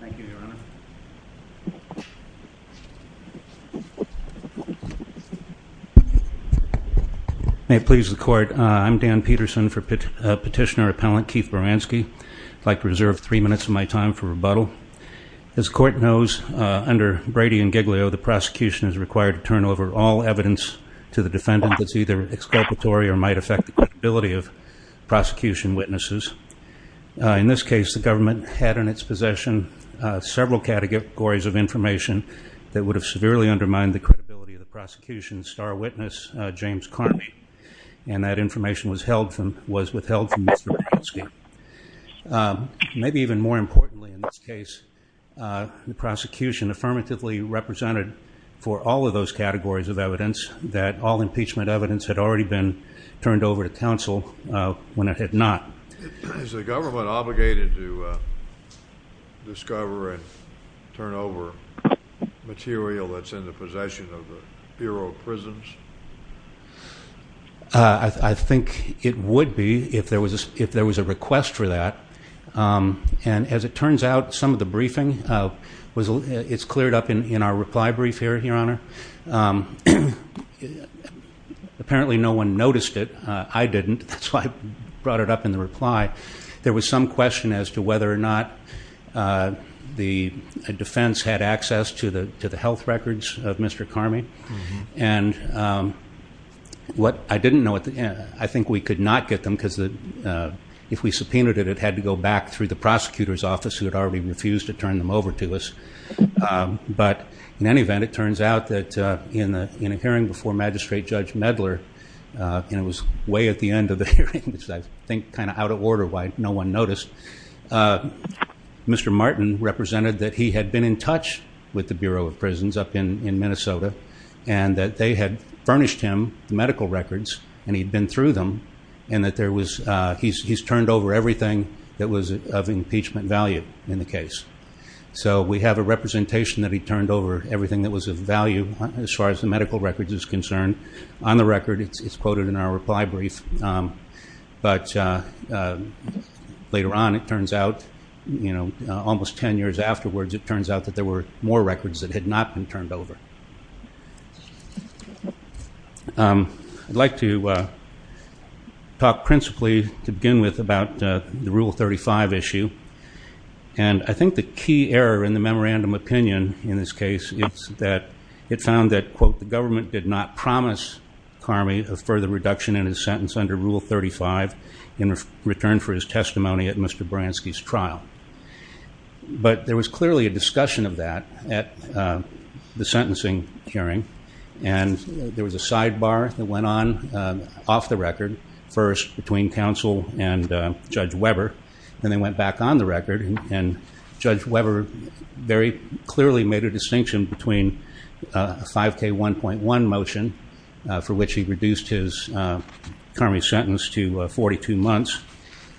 Thank you your honor. May it please the court I'm Dan Peterson for petitioner appellant Keith Baranski. I'd like to reserve three minutes of my time for rebuttal. As court knows under Brady and Giglio the prosecution is required to turn over all evidence to the defendant that's either exculpatory or might affect the credibility of prosecution witnesses. In this case the government had in its possession several categories of information that would have severely undermined the credibility of the prosecution's star witness James Carney and that information was held from was withheld from Mr. Baranski. Maybe even more importantly in this case the prosecution affirmatively represented for all of those categories of evidence that all impeachment evidence had already been turned over to counsel when it had not. Is the government obligated to discover and turn over material that's in the possession of the Bureau of Prisons? I think it would be if there was if there was a request for that and as it turns out some of the briefing was it's cleared up in our reply brief here your honor. Apparently no one noticed it I didn't that's why I brought it up in reply. There was some question as to whether or not the defense had access to the to the health records of Mr. Carney and what I didn't know at the end I think we could not get them because the if we subpoenaed it it had to go back through the prosecutor's office who had already refused to turn them over to us but in any event it turns out that in the in a hearing before magistrate judge Medler and it was way at the end of the hearing I think kind of out of order why no one noticed. Mr. Martin represented that he had been in touch with the Bureau of Prisons up in in Minnesota and that they had furnished him medical records and he'd been through them and that there was he's turned over everything that was of impeachment value in the case. So we have a representation that he turned over everything that was of value as far as the medical records is concerned. On the record it's quoted in our reply brief but later on it turns out you know almost 10 years afterwards it turns out that there were more records that had not been turned over. I'd like to talk principally to begin with about the rule 35 issue and I think the key error in the memorandum opinion in this case it's that it found that quote the government did not promise Carmy a further reduction in his sentence under rule 35 in return for his testimony at Mr. Bransky's trial. But there was clearly a discussion of that at the sentencing hearing and there was a sidebar that went on off the record first between counsel and Judge Weber and they went back on the record and Judge Weber very clearly made a 1.1 motion for which he reduced his Carmy sentence to 42 months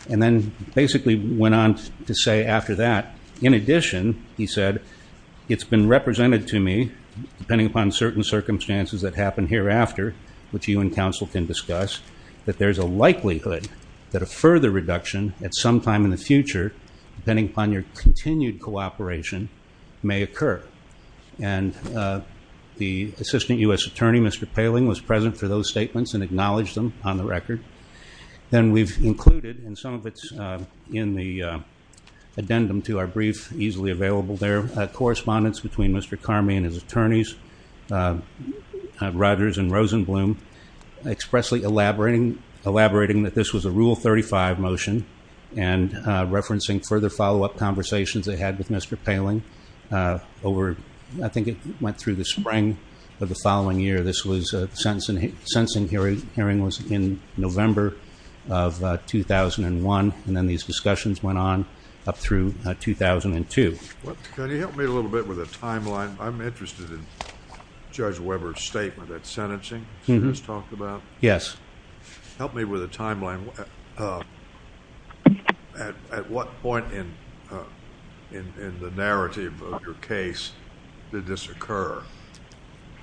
and then basically went on to say after that in addition he said it's been represented to me depending upon certain circumstances that happen hereafter which you and counsel can discuss that there's a likelihood that a further reduction at some time in the future depending upon your continued cooperation may occur and the assistant US attorney Mr. Poehling was present for those statements and acknowledged them on the record. Then we've included in some of its in the addendum to our brief easily available there correspondence between Mr. Carmy and his attorneys Rogers and Rosenblum expressly elaborating elaborating that this was a rule 35 motion and referencing further follow-up conversations they had with Mr. Poehling over I think it went through the spring of the following year this was a sentence in a sensing hearing hearing was in November of 2001 and then these discussions went on up through 2002. Can you help me a little bit with a timeline? I'm interested in Judge Weber's sentencing. Yes. Help me with a timeline at what point in in the narrative of your case did this occur?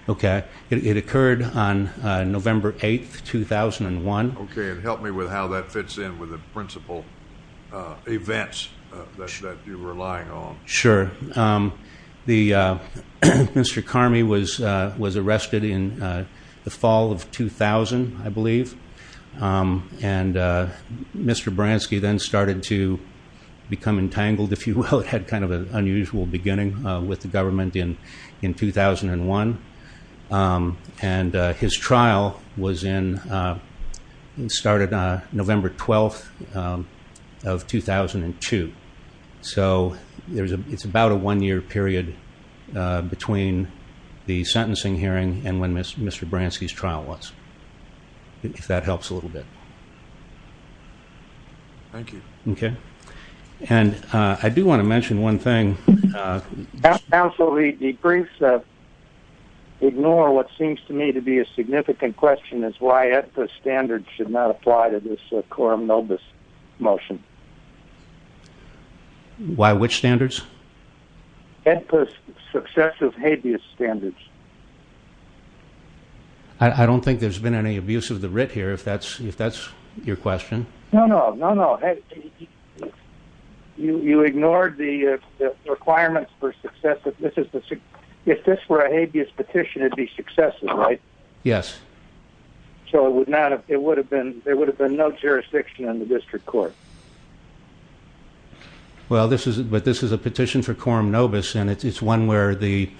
Okay it occurred on November 8th 2001. Okay and help me with how that fits in with the principal events that you're relying on. Sure the Mr. Carmy was was arrested in the fall of 2000 I believe and Mr. Bransky then started to become entangled if you had kind of an unusual beginning with the government in in 2001 and his trial was in started on November 12th of 2002 so there's a it's about a one-year period between the sentencing hearing and when Mr. Bransky's trial was if that helps a little bit. Thank you. Okay and I do want to mention one thing. Counsel the briefs ignore what seems to me to be a significant question is why the standards should not apply to this motion. Why which standards? Successive habeas standards. I don't think there's been any abuse of the writ here if that's if that's your question. No no no no you ignored the requirements for success. If this were a habeas petition it'd be successive right? Yes. So it would not have it would have there would have been no jurisdiction in the district court. Well this is but this is a petition for quorum nobis and it's one where the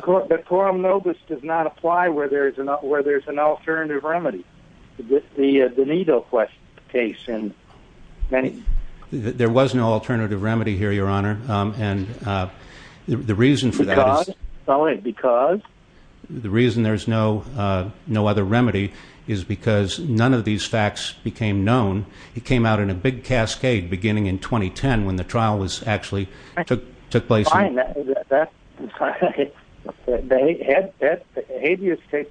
quorum nobis does not apply where there is enough where there's an alternative remedy. The Donato question case and many there was no alternative remedy here your honor and the reason for that is because the reason there's no no other remedy is because none of these facts became known. It came out in a big cascade beginning in 2010 when the trial was actually took place. The habeas takes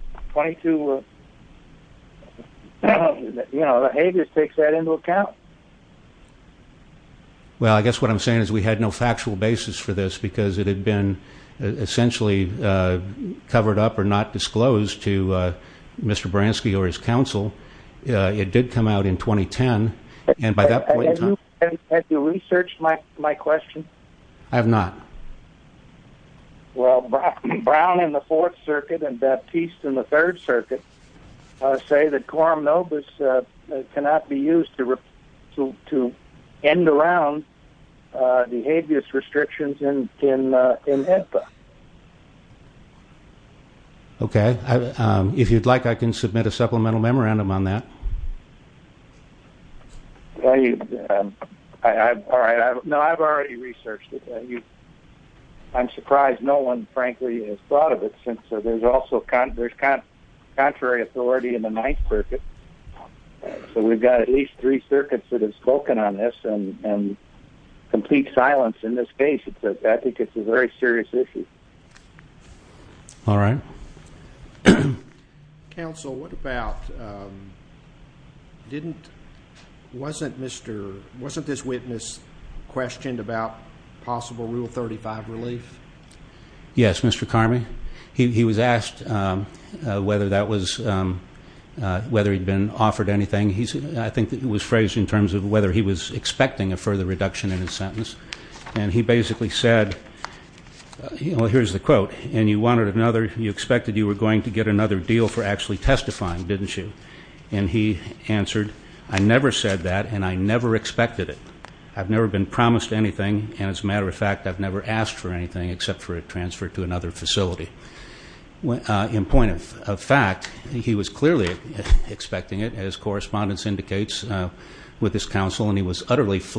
that into account. Well I guess what I'm saying is we had no factual basis for this because it had been essentially covered up or not it did come out in 2010 and by that point in time. Have you researched my question? I have not. Well Brown in the Fourth Circuit and Baptiste in the Third Circuit say that quorum nobis cannot be used to end around the habeas restrictions in HIPAA. Okay if you'd like I can submit a supplemental memorandum on that. No I've already researched it. I'm surprised no one frankly has thought of it since there's also contrary authority in the Ninth Circuit so we've got at least three circuits that have spoken on this and complete silence in this case. It's a very serious issue. All right. Counsel what about didn't wasn't Mr. wasn't this witness questioned about possible rule 35 relief? Yes Mr. Karmy he was asked whether that was whether he'd been offered anything he said I think that it was phrased in terms of whether he was expecting a further reduction in his sentence and he basically said you know here's the quote and you wanted another you expected you were going to get another deal for actually testifying didn't you and he answered I never said that and I never expected it. I've never been promised anything and as a matter of fact I've never asked for anything except for a transfer to another facility. In point of fact he was clearly expecting it as correspondence indicates with his counsel and he was unbelief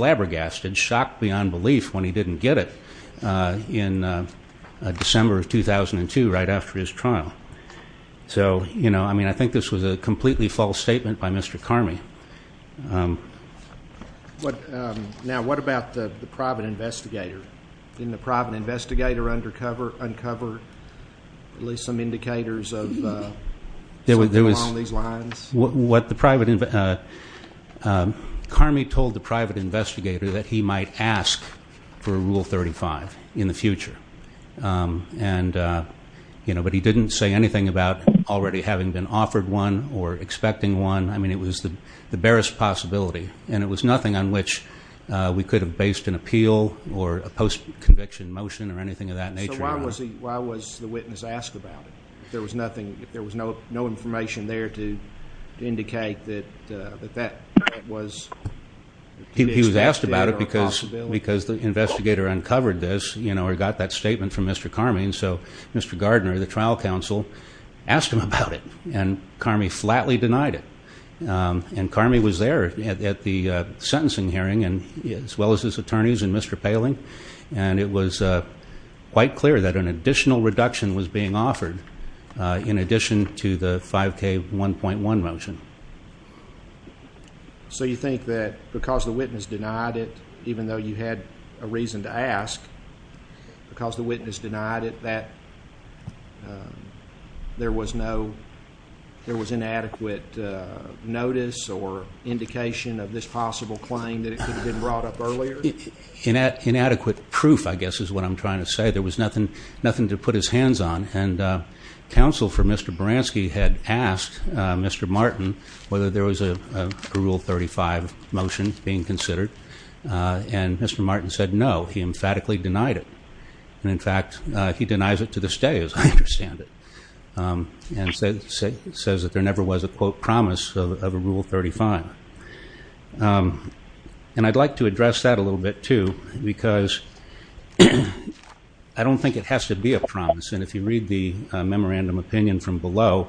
when he didn't get it in December of 2002 right after his trial. So you know I mean I think this was a completely false statement by Mr. Karmy. Now what about the private investigator? Didn't the private investigator uncover at least some indicators of something along these lines? What the private investigator, Karmy told the private investigator that he might ask for a rule 35 in the future and you know but he didn't say anything about already having been offered one or expecting one I mean it was the the barest possibility and it was nothing on which we could have based an appeal or a post conviction motion or anything of that nature. Why was the witness asked about it? There was nothing there was no information there to indicate that that was. He was asked about it because because the investigator uncovered this you know or got that statement from Mr. Karmy and so Mr. Gardner the trial counsel asked him about it and Karmy flatly denied it and Karmy was there at the sentencing hearing and as well as his attorneys and Mr. Poehling and it was quite clear that an additional reduction was being offered in addition to the 5k 1.1 motion. So you think that because the witness denied it even though you had a reason to ask because the witness denied it that there was no there was inadequate notice or indication of this possible claim that it could have been brought up earlier? Inadequate proof I guess is what I'm trying to say there was nothing nothing to put his hands on and counsel for Mr. Baranski had asked Mr. Martin whether there was a rule 35 motion being considered and Mr. Martin said no he emphatically denied it and in fact he denies it to this day as I understand it and says that there never was a quote promise of a rule 35 and I'd like to promise and if you read the memorandum opinion from below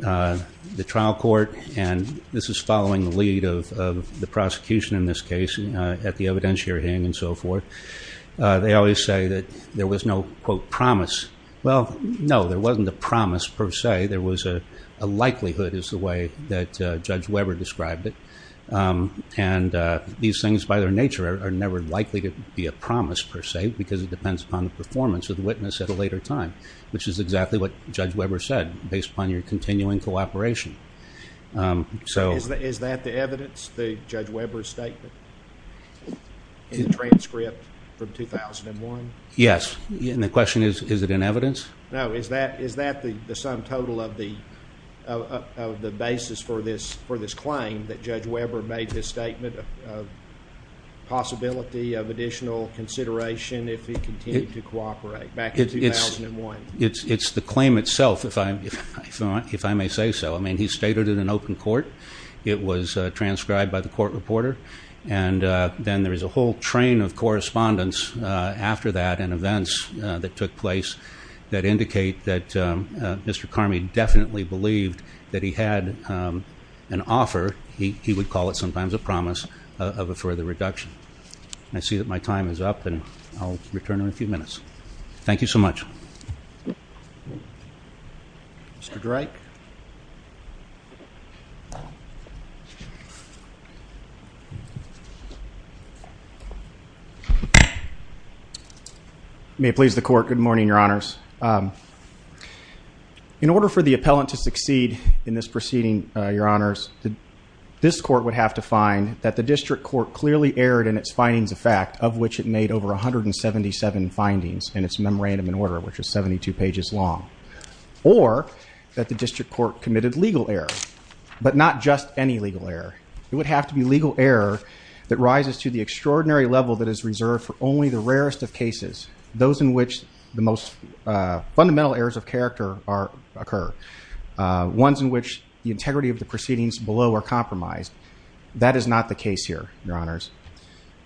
the trial court and this is following the lead of the prosecution in this case at the evidentiary hang and so forth they always say that there was no quote promise well no there wasn't a promise per se there was a likelihood is the way that Judge Weber described it and these things by their nature are never likely to be a promise per se because it depends upon the performance of the case at a later time which is exactly what Judge Weber said based upon your continuing cooperation so... Is that the evidence the Judge Weber's statement in the transcript from 2001? Yes and the question is is it in evidence? No is that is that the sum total of the of the basis for this for this claim that Judge Weber made his statement of possibility of additional consideration if he continued to cooperate back in 2001? It's the claim itself if I may say so I mean he stated in an open court it was transcribed by the court reporter and then there is a whole train of correspondence after that and events that took place that indicate that Mr. Carmey definitely believed that he had an offer he would call it sometimes a I see that my time is up and I'll return in a few minutes thank you so much Mr. Drake May it please the court good morning your honors in order for the appellant to succeed in this proceeding your honors this court would have to find that the district court clearly erred in its findings of fact of which it made over a hundred and seventy-seven findings in its memorandum in order which is seventy-two pages long or that the district court committed legal error but not just any legal error it would have to be legal error that rises to the extraordinary level that is reserved for only the rarest of cases those in which the most fundamental errors of character are occur ones in which the integrity of the proceedings below are compromised that is not the case here your honors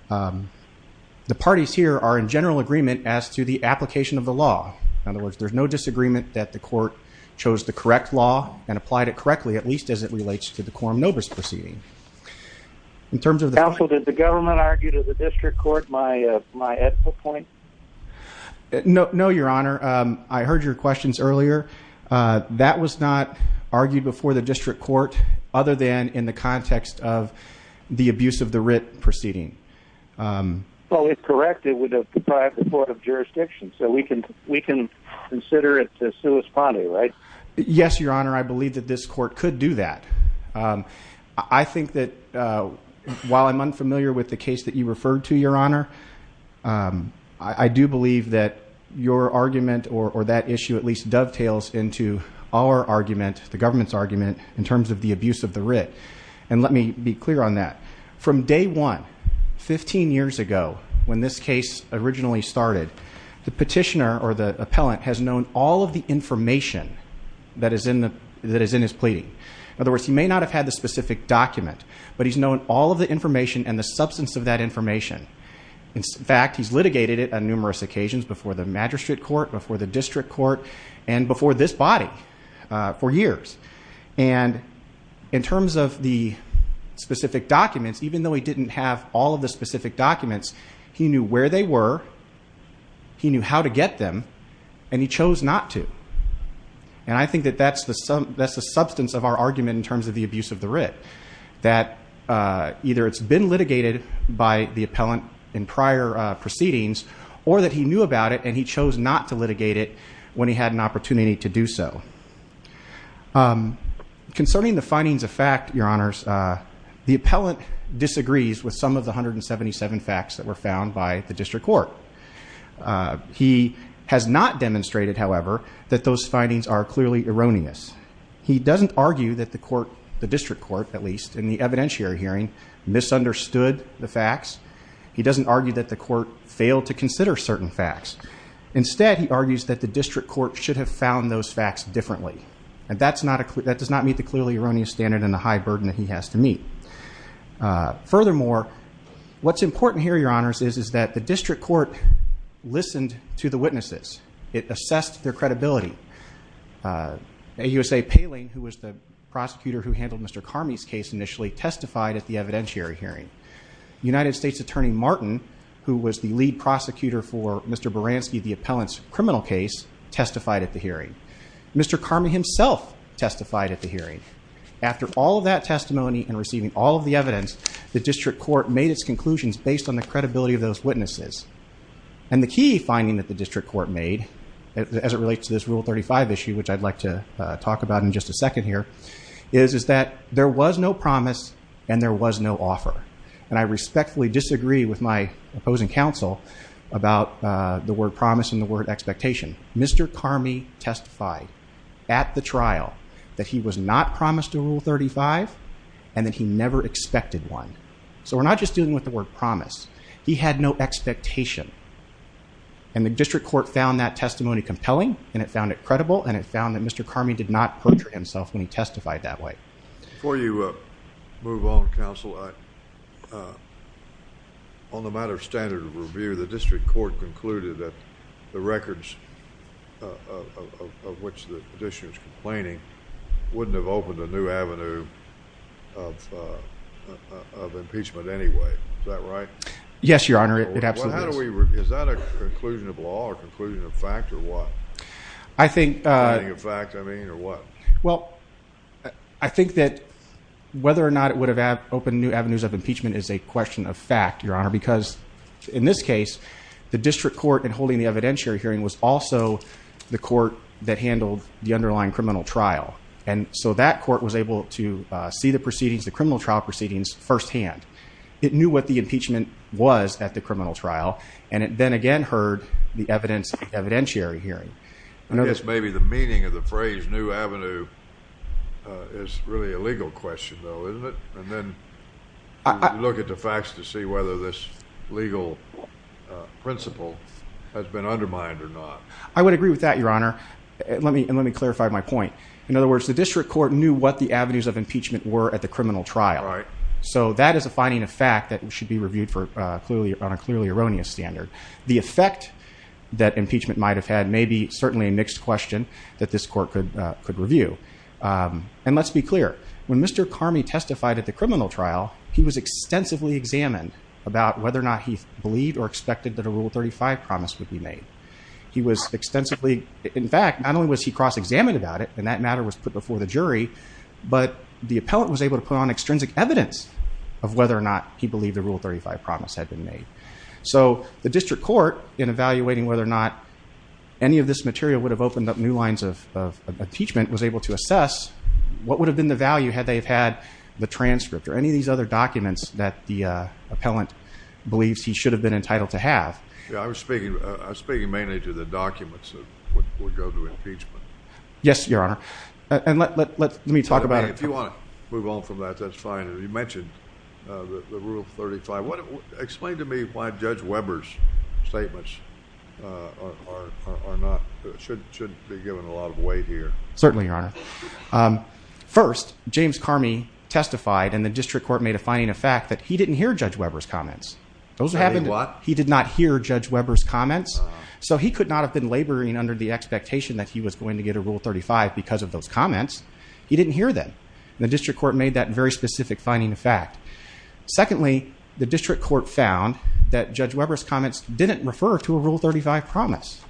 the parties here are in general agreement as to the application of the law in other words there's no disagreement that the court chose the correct law and applied it correctly at least as it relates to the quorum novus proceeding in terms of the council did the government argue to the district court my point no no your honor I heard your questions earlier that was not argued before the district court other than in the context of the abuse of the writ proceeding well it's correct it would have deprived the court of jurisdiction so we can we can consider it to sue a spotty right yes your honor I believe that this court could do that I think that while I'm unfamiliar with the case that you referred to your honor I do believe that your argument or that issue at least dovetails into our argument the government's argument in terms of the abuse of the writ and let me be clear on that from day one 15 years ago when this case originally started the petitioner or the appellant has known all of the information that is in the that is in his pleading in other words he may not have had the specific document but he's known all of the information and the substance of that information in fact he's litigated it on and before this body for years and in terms of the specific documents even though he didn't have all of the specific documents he knew where they were he knew how to get them and he chose not to and I think that that's the some that's the substance of our argument in terms of the abuse of the writ that either it's been litigated by the appellant in prior proceedings or that he knew about it and he chose not to litigate it when he had an opportunity to do so concerning the findings of fact your honors the appellant disagrees with some of the hundred and seventy-seven facts that were found by the district court he has not demonstrated however that those findings are clearly erroneous he doesn't argue that the court the district court at least in the evidentiary hearing misunderstood the certain facts instead he argues that the district court should have found those facts differently and that's not a clue that does not meet the clearly erroneous standard and the high burden that he has to meet furthermore what's important here your honors is is that the district court listened to the witnesses it assessed their credibility a USA paling who was the prosecutor who handled mr. car me's case initially testified at the evidentiary hearing united states attorney martin who was the lead prosecutor for mr. baranski the appellant's criminal case testified at the hearing mr. Carmen himself testified at the hearing after all that testimony and receiving all of the evidence the district court made its conclusions based on the credibility of those witnesses and the key finding that the district court made as it relates to this rule 35 issue which I'd like to talk about in just a second here is is there was no promise and there was no offer and I respectfully disagree with my opposing counsel about the word promise in the word expectation mr. car me testified at the trial that he was not promised to rule 35 and that he never expected one so we're not just dealing with the word promise he had no expectation and the district court found that testimony compelling and it found it credible and it found that mr. car me did not put her himself when he before you move on counsel on the matter of standard of review the district court concluded that the records of which the petitioners complaining wouldn't have opened a new avenue of impeachment anyway is that right yes your honor it absolutely is that a conclusion of law or conclusion of fact I think well I think that whether or not it would have had open new avenues of impeachment is a question of fact your honor because in this case the district court and holding the evidentiary hearing was also the court that handled the underlying criminal trial and so that court was able to see the proceedings the criminal trial proceedings firsthand it knew what the impeachment was at the criminal trial and it then again heard the evidence evidentiary hearing I know this may be the meaning of the phrase new Avenue is really a legal question though isn't it and then I look at the facts to see whether this legal principle has been undermined or not I would agree with that your honor let me and let me clarify my point in other words the district court knew what the avenues of impeachment were at the criminal trial right so that is a finding of fact that should be reviewed for clearly on a erroneous standard the effect that impeachment might have had maybe certainly a mixed question that this court could could review and let's be clear when mr. car me testified at the criminal trial he was extensively examined about whether or not he believed or expected that a rule 35 promise would be made he was extensively in fact not only was he cross-examined about it and that matter was put before the jury but the appellant was able to put on extrinsic evidence of whether or not he believed the rule 35 promise had been made so the district court in evaluating whether or not any of this material would have opened up new lines of impeachment was able to assess what would have been the value had they have had the transcript or any of these other documents that the appellant believes he should have been entitled to have I was speaking I was speaking mainly to the documents that would go to impeachment yes your honor and let me talk about if you want to move on from that that's fine you mentioned the rule 35 what explained to me why judge Weber's statements are not should be given a lot of weight here certainly your honor first James car me testified and the district court made a finding a fact that he didn't hear judge Weber's comments those are having a lot he did not hear judge Weber's comments so he could not have been laboring under the expectation that he was going to get a rule 35 because of those comments he district court made that very specific finding a fact secondly the district court found that judge Weber's comments didn't refer to a rule 35 promise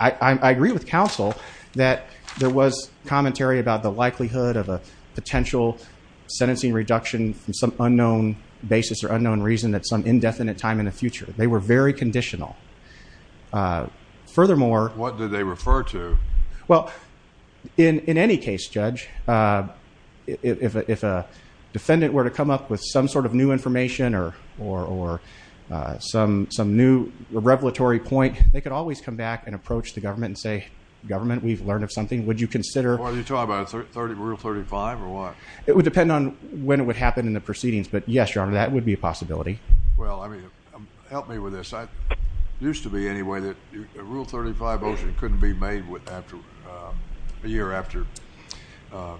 I agree with counsel that there was commentary about the likelihood of a potential sentencing reduction from some unknown basis or unknown reason that some indefinite time in the future they were very conditional furthermore what did they refer to well in in any case judge if a defendant were to come up with some sort of new information or or or some some new revelatory point they could always come back and approach the government and say government we've learned of something would you consider what are you talking about 30 rule 35 or what it would depend on when it would happen in the proceedings but yes your honor that would be a possibility well I mean help me with this I used to be anyway that rule 35 ocean couldn't be made with after a year after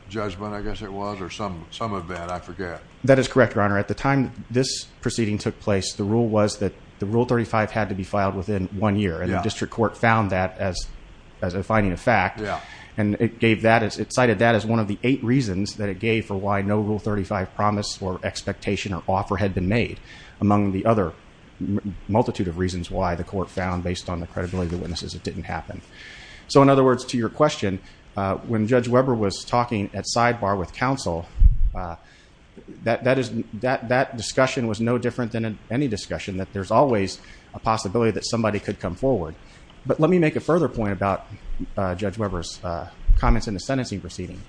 judgment I guess it was or some some of that I forget that is correct your honor at the time this proceeding took place the rule was that the rule 35 had to be filed within one year and the district court found that as as a finding of fact yeah and it gave that as it cited that as one of the eight reasons that it gave for why no rule 35 promise or expectation or offer had been made among the other multitude of reasons why the court found based on the credibility witnesses it didn't happen so in other words to your question when judge Weber was talking at sidebar with counsel that that is that that discussion was no different than in any discussion that there's always a possibility that somebody could come forward but let me make a further point about judge Weber's comments in the sentencing proceeding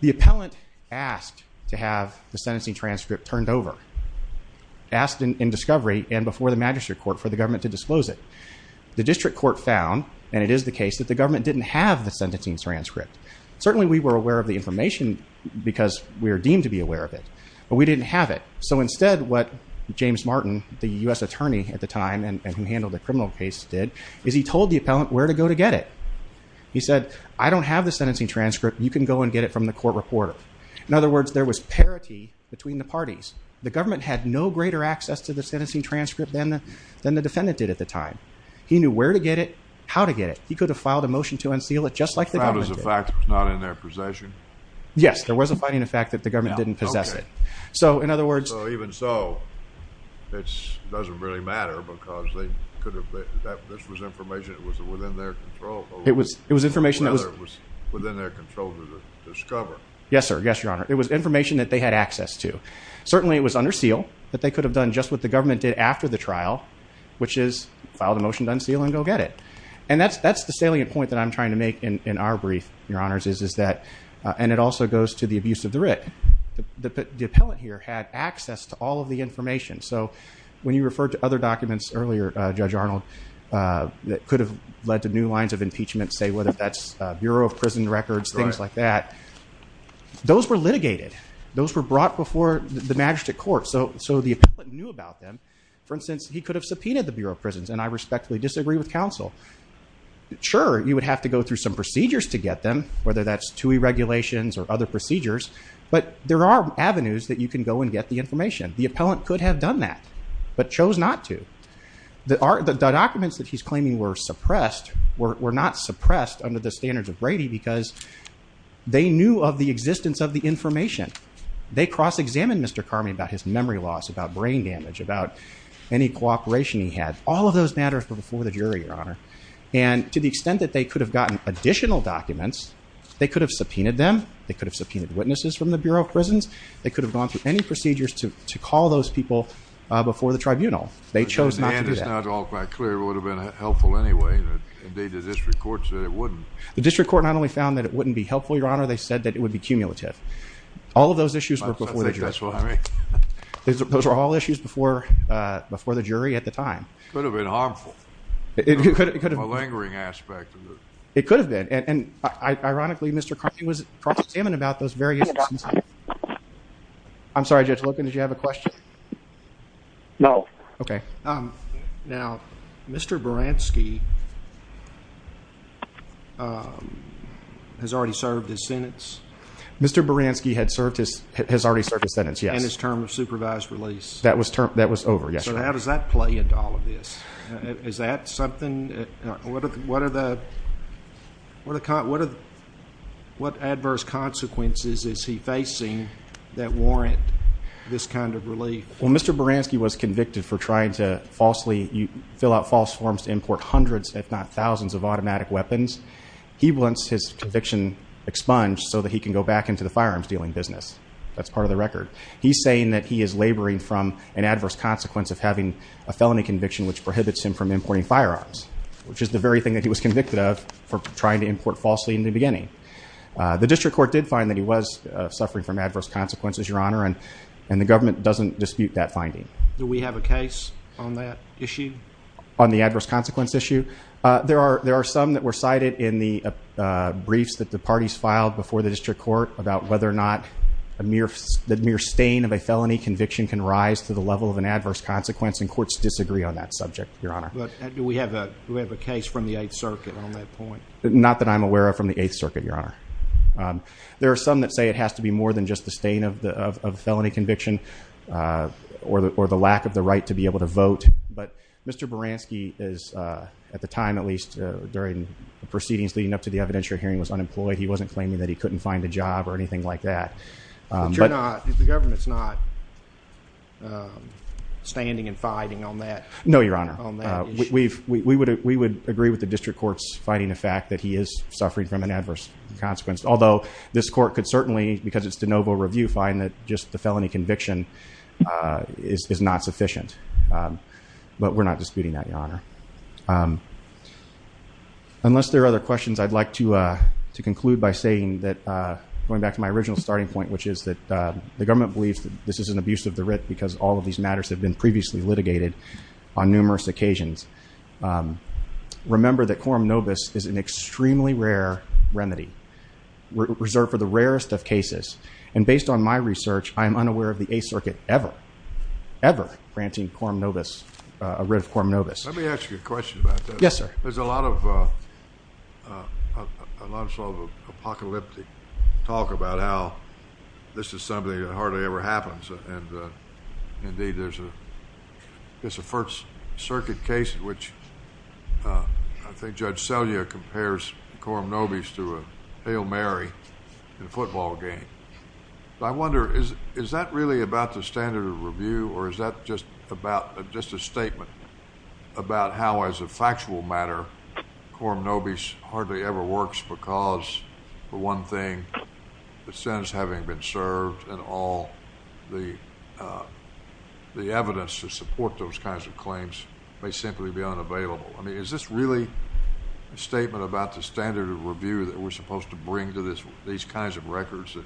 the appellant asked to have the sentencing transcript turned over asked in discovery and before the magistrate court for the government to disclose it the district court found and it is the case that the government didn't have the sentencing transcript certainly we were aware of the information because we are deemed to be aware of it but we didn't have it so instead what James Martin the US attorney at the time and who handled the criminal case did is he told the appellant where to go to get it he said I don't have the sentencing transcript you can go and get it from the court reporter in other words there was parity between the parties the government had no greater access to the sentencing transcript than the then the defendant did at the time he knew where to get it how to get it he could have filed a motion to unseal it just like there was a fact not in their possession yes there was a fighting the fact that the government didn't possess it so in other words so even so it doesn't really matter because they could have been that this was information it was within their control it was it was information that was within their control to discover yes sir yes your honor it was information that they had access to certainly it was under seal that they could have done just what the government did after the trial which is filed a motion done seal and go get it and that's that's the salient point that I'm trying to make in our brief your honors is is that and it also goes to the abuse of the writ the appellant here had access to all of the information so when you refer to other documents earlier judge Arnold that could have led to new lines of impeachment say whether that's Bureau of Prison Records things like that those were litigated those were brought before the magistrate court so so the for instance he could have subpoenaed the Bureau of Prisons and I respectfully disagree with counsel sure you would have to go through some procedures to get them whether that's to a regulations or other procedures but there are avenues that you can go and get the information the appellant could have done that but chose not to that are the documents that he's claiming were suppressed were not suppressed under the standards of Brady because they knew of the existence of the information they cross-examined mr. Carmen about his memory loss about brain damage about any cooperation he had all of those matters but before the jury your honor and to the extent that they could have gotten additional documents they could have subpoenaed them they could have subpoenaed witnesses from the Bureau of Prisons they could have gone through any procedures to call those people before the tribunal they chose not all quite anyway the district court not only found that it wouldn't be helpful your honor they said that it would be cumulative all of those issues before before the jury at the time it could have been and ironically mr. Cartman about those various I'm sorry just looking did you have a question no okay now mr. Baranski has already served his sentence mr. Baranski had served his has already served his sentence yeah his term of supervised release that was termed that was over yes how does that play into all of this is that something what are the what a car what are what adverse consequences is he facing that warrant this kind of relief well mr. Baranski was convicted for trying to falsely you fill out false forms to import hundreds if not thousands of automatic weapons he wants his conviction expunged so that he can go back into the firearms dealing business that's part of the record he's saying that he is laboring from an adverse consequence of having a felony conviction which prohibits him from trying to import falsely in the beginning the district court did find that he was suffering from adverse consequences your honor and and the government doesn't dispute that finding do we have a case on that issue on the adverse consequence issue there are there are some that were cited in the briefs that the parties filed before the district court about whether or not a mere the mere stain of a felony conviction can rise to the level of an adverse consequence and courts disagree on that subject your honor do we have a case from the 8th circuit on that point not that I'm aware of from the 8th circuit your honor there are some that say it has to be more than just the stain of the felony conviction or the or the lack of the right to be able to vote but mr. Baranski is at the time at least during the proceedings leading up to the evidentiary hearing was unemployed he wasn't claiming that he couldn't find a job or anything like that but you're not the government's not standing and we would agree with the district courts fighting the fact that he is suffering from an adverse consequence although this court could certainly because it's the noble review find that just the felony conviction is not sufficient but we're not disputing that your honor unless there are other questions I'd like to to conclude by saying that going back to my original starting point which is that the government believes that this is an abuse of the writ because all remember that quorum nobis is an extremely rare remedy reserved for the rarest of cases and based on my research I am unaware of the 8th circuit ever ever granting quorum nobis a writ of quorum nobis let me ask you a question about that yes sir there's a lot of a lot of apocalyptic talk about how this is something that hardly ever happens and indeed there's a there's a first circuit case in which I think Judge Selya compares quorum nobis to a Hail Mary in a football game I wonder is is that really about the standard of review or is that just about just a statement about how as a factual matter quorum nobis hardly ever works because for one thing the sentence having been served and all the the evidence to support those kinds of claims may simply be unavailable I mean is this really a statement about the standard of review that we're supposed to bring to this these kinds of records that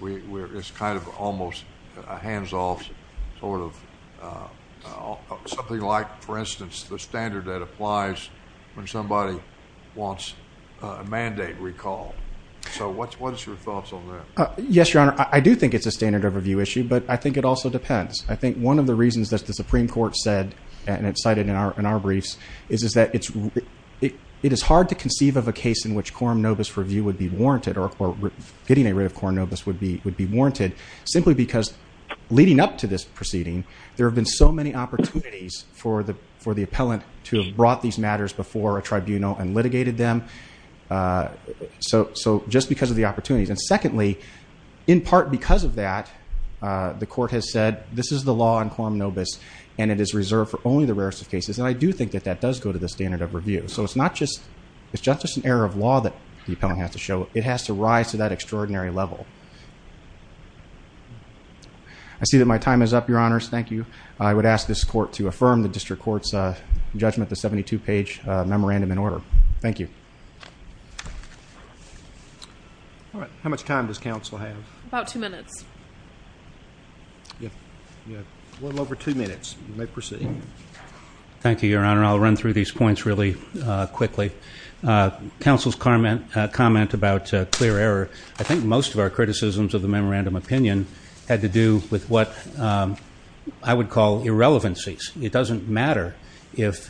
we're it's kind of almost a hands-off sort of something like for instance the standard that applies when somebody wants a mandate recall so what's what is your yes your honor I do think it's a standard of review issue but I think it also depends I think one of the reasons that the Supreme Court said and it's cited in our in our briefs is is that it's it it is hard to conceive of a case in which quorum nobis review would be warranted or getting a writ of quorum nobis would be would be warranted simply because leading up to this proceeding there have been so many opportunities for the for the appellant to have brought these matters before a tribunal and litigated them so so just because of the opportunities and secondly in part because of that the court has said this is the law in quorum nobis and it is reserved for only the rarest of cases and I do think that that does go to the standard of review so it's not just it's just an error of law that the appellant has to show it has to rise to that extraordinary level I see that my time is up your honors thank you I would ask this court to affirm the district courts judgment the 72 page memorandum in order thank you all right how much time does counsel have about two minutes yeah a little over two minutes you may proceed thank you your honor I'll run through these points really quickly counsel's Carmen comment about clear error I think most of our criticisms of the memorandum opinion had to do with what I would call irrelevancies it doesn't matter if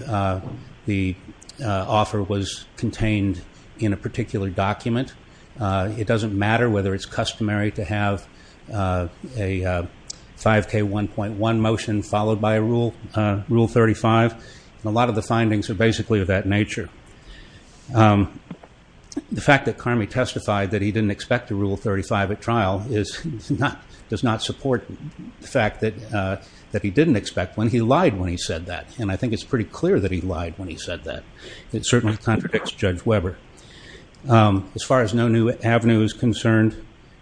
the offer was contained in a particular document it doesn't matter whether it's customary to have a 5k 1.1 motion followed by a rule rule 35 a lot of the findings are basically of that nature the fact that car me testified that he didn't expect to rule 35 at trial is not does not support the fact that that he didn't expect when he lied when he said that and I think it's pretty clear that he lied when he said that it certainly contradicts judge Weber as far as no new avenues concerned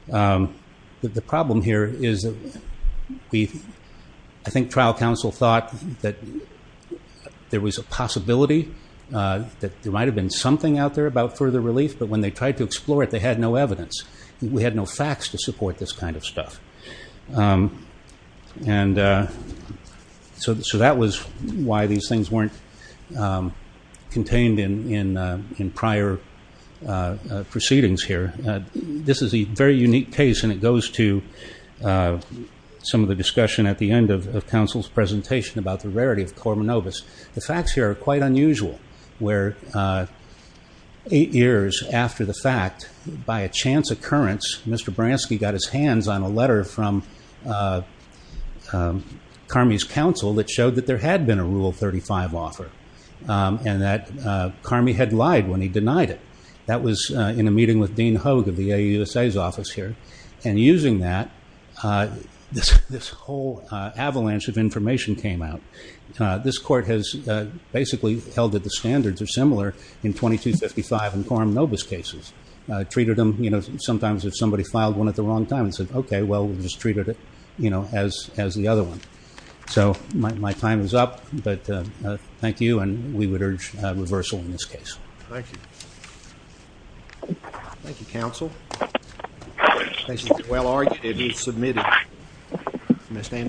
the problem here is we I think trial counsel thought that there was a possibility that there might have been something out there about further relief but when they tried to explore it they had no evidence we had no facts to support this kind of stuff and so that was why these things weren't contained in in in prior proceedings here this is a very unique case and it goes to some of the discussion at the end of counsel's presentation about the unusual where eight years after the fact by a chance occurrence mr. Bransky got his hands on a letter from car me's counsel that showed that there had been a rule 35 offer and that car me had lied when he denied it that was in a meeting with Dean Hogue of the a USA's office here and using that this whole avalanche of information came out this court has basically held that the standards are similar in 2255 and quorum novus cases treated them you know sometimes if somebody filed one at the wrong time and said okay well we just treated it you know as as the other one so my time is up but thank you and we would urge reversal in this case thank you thank you counsel well-argued it is submitted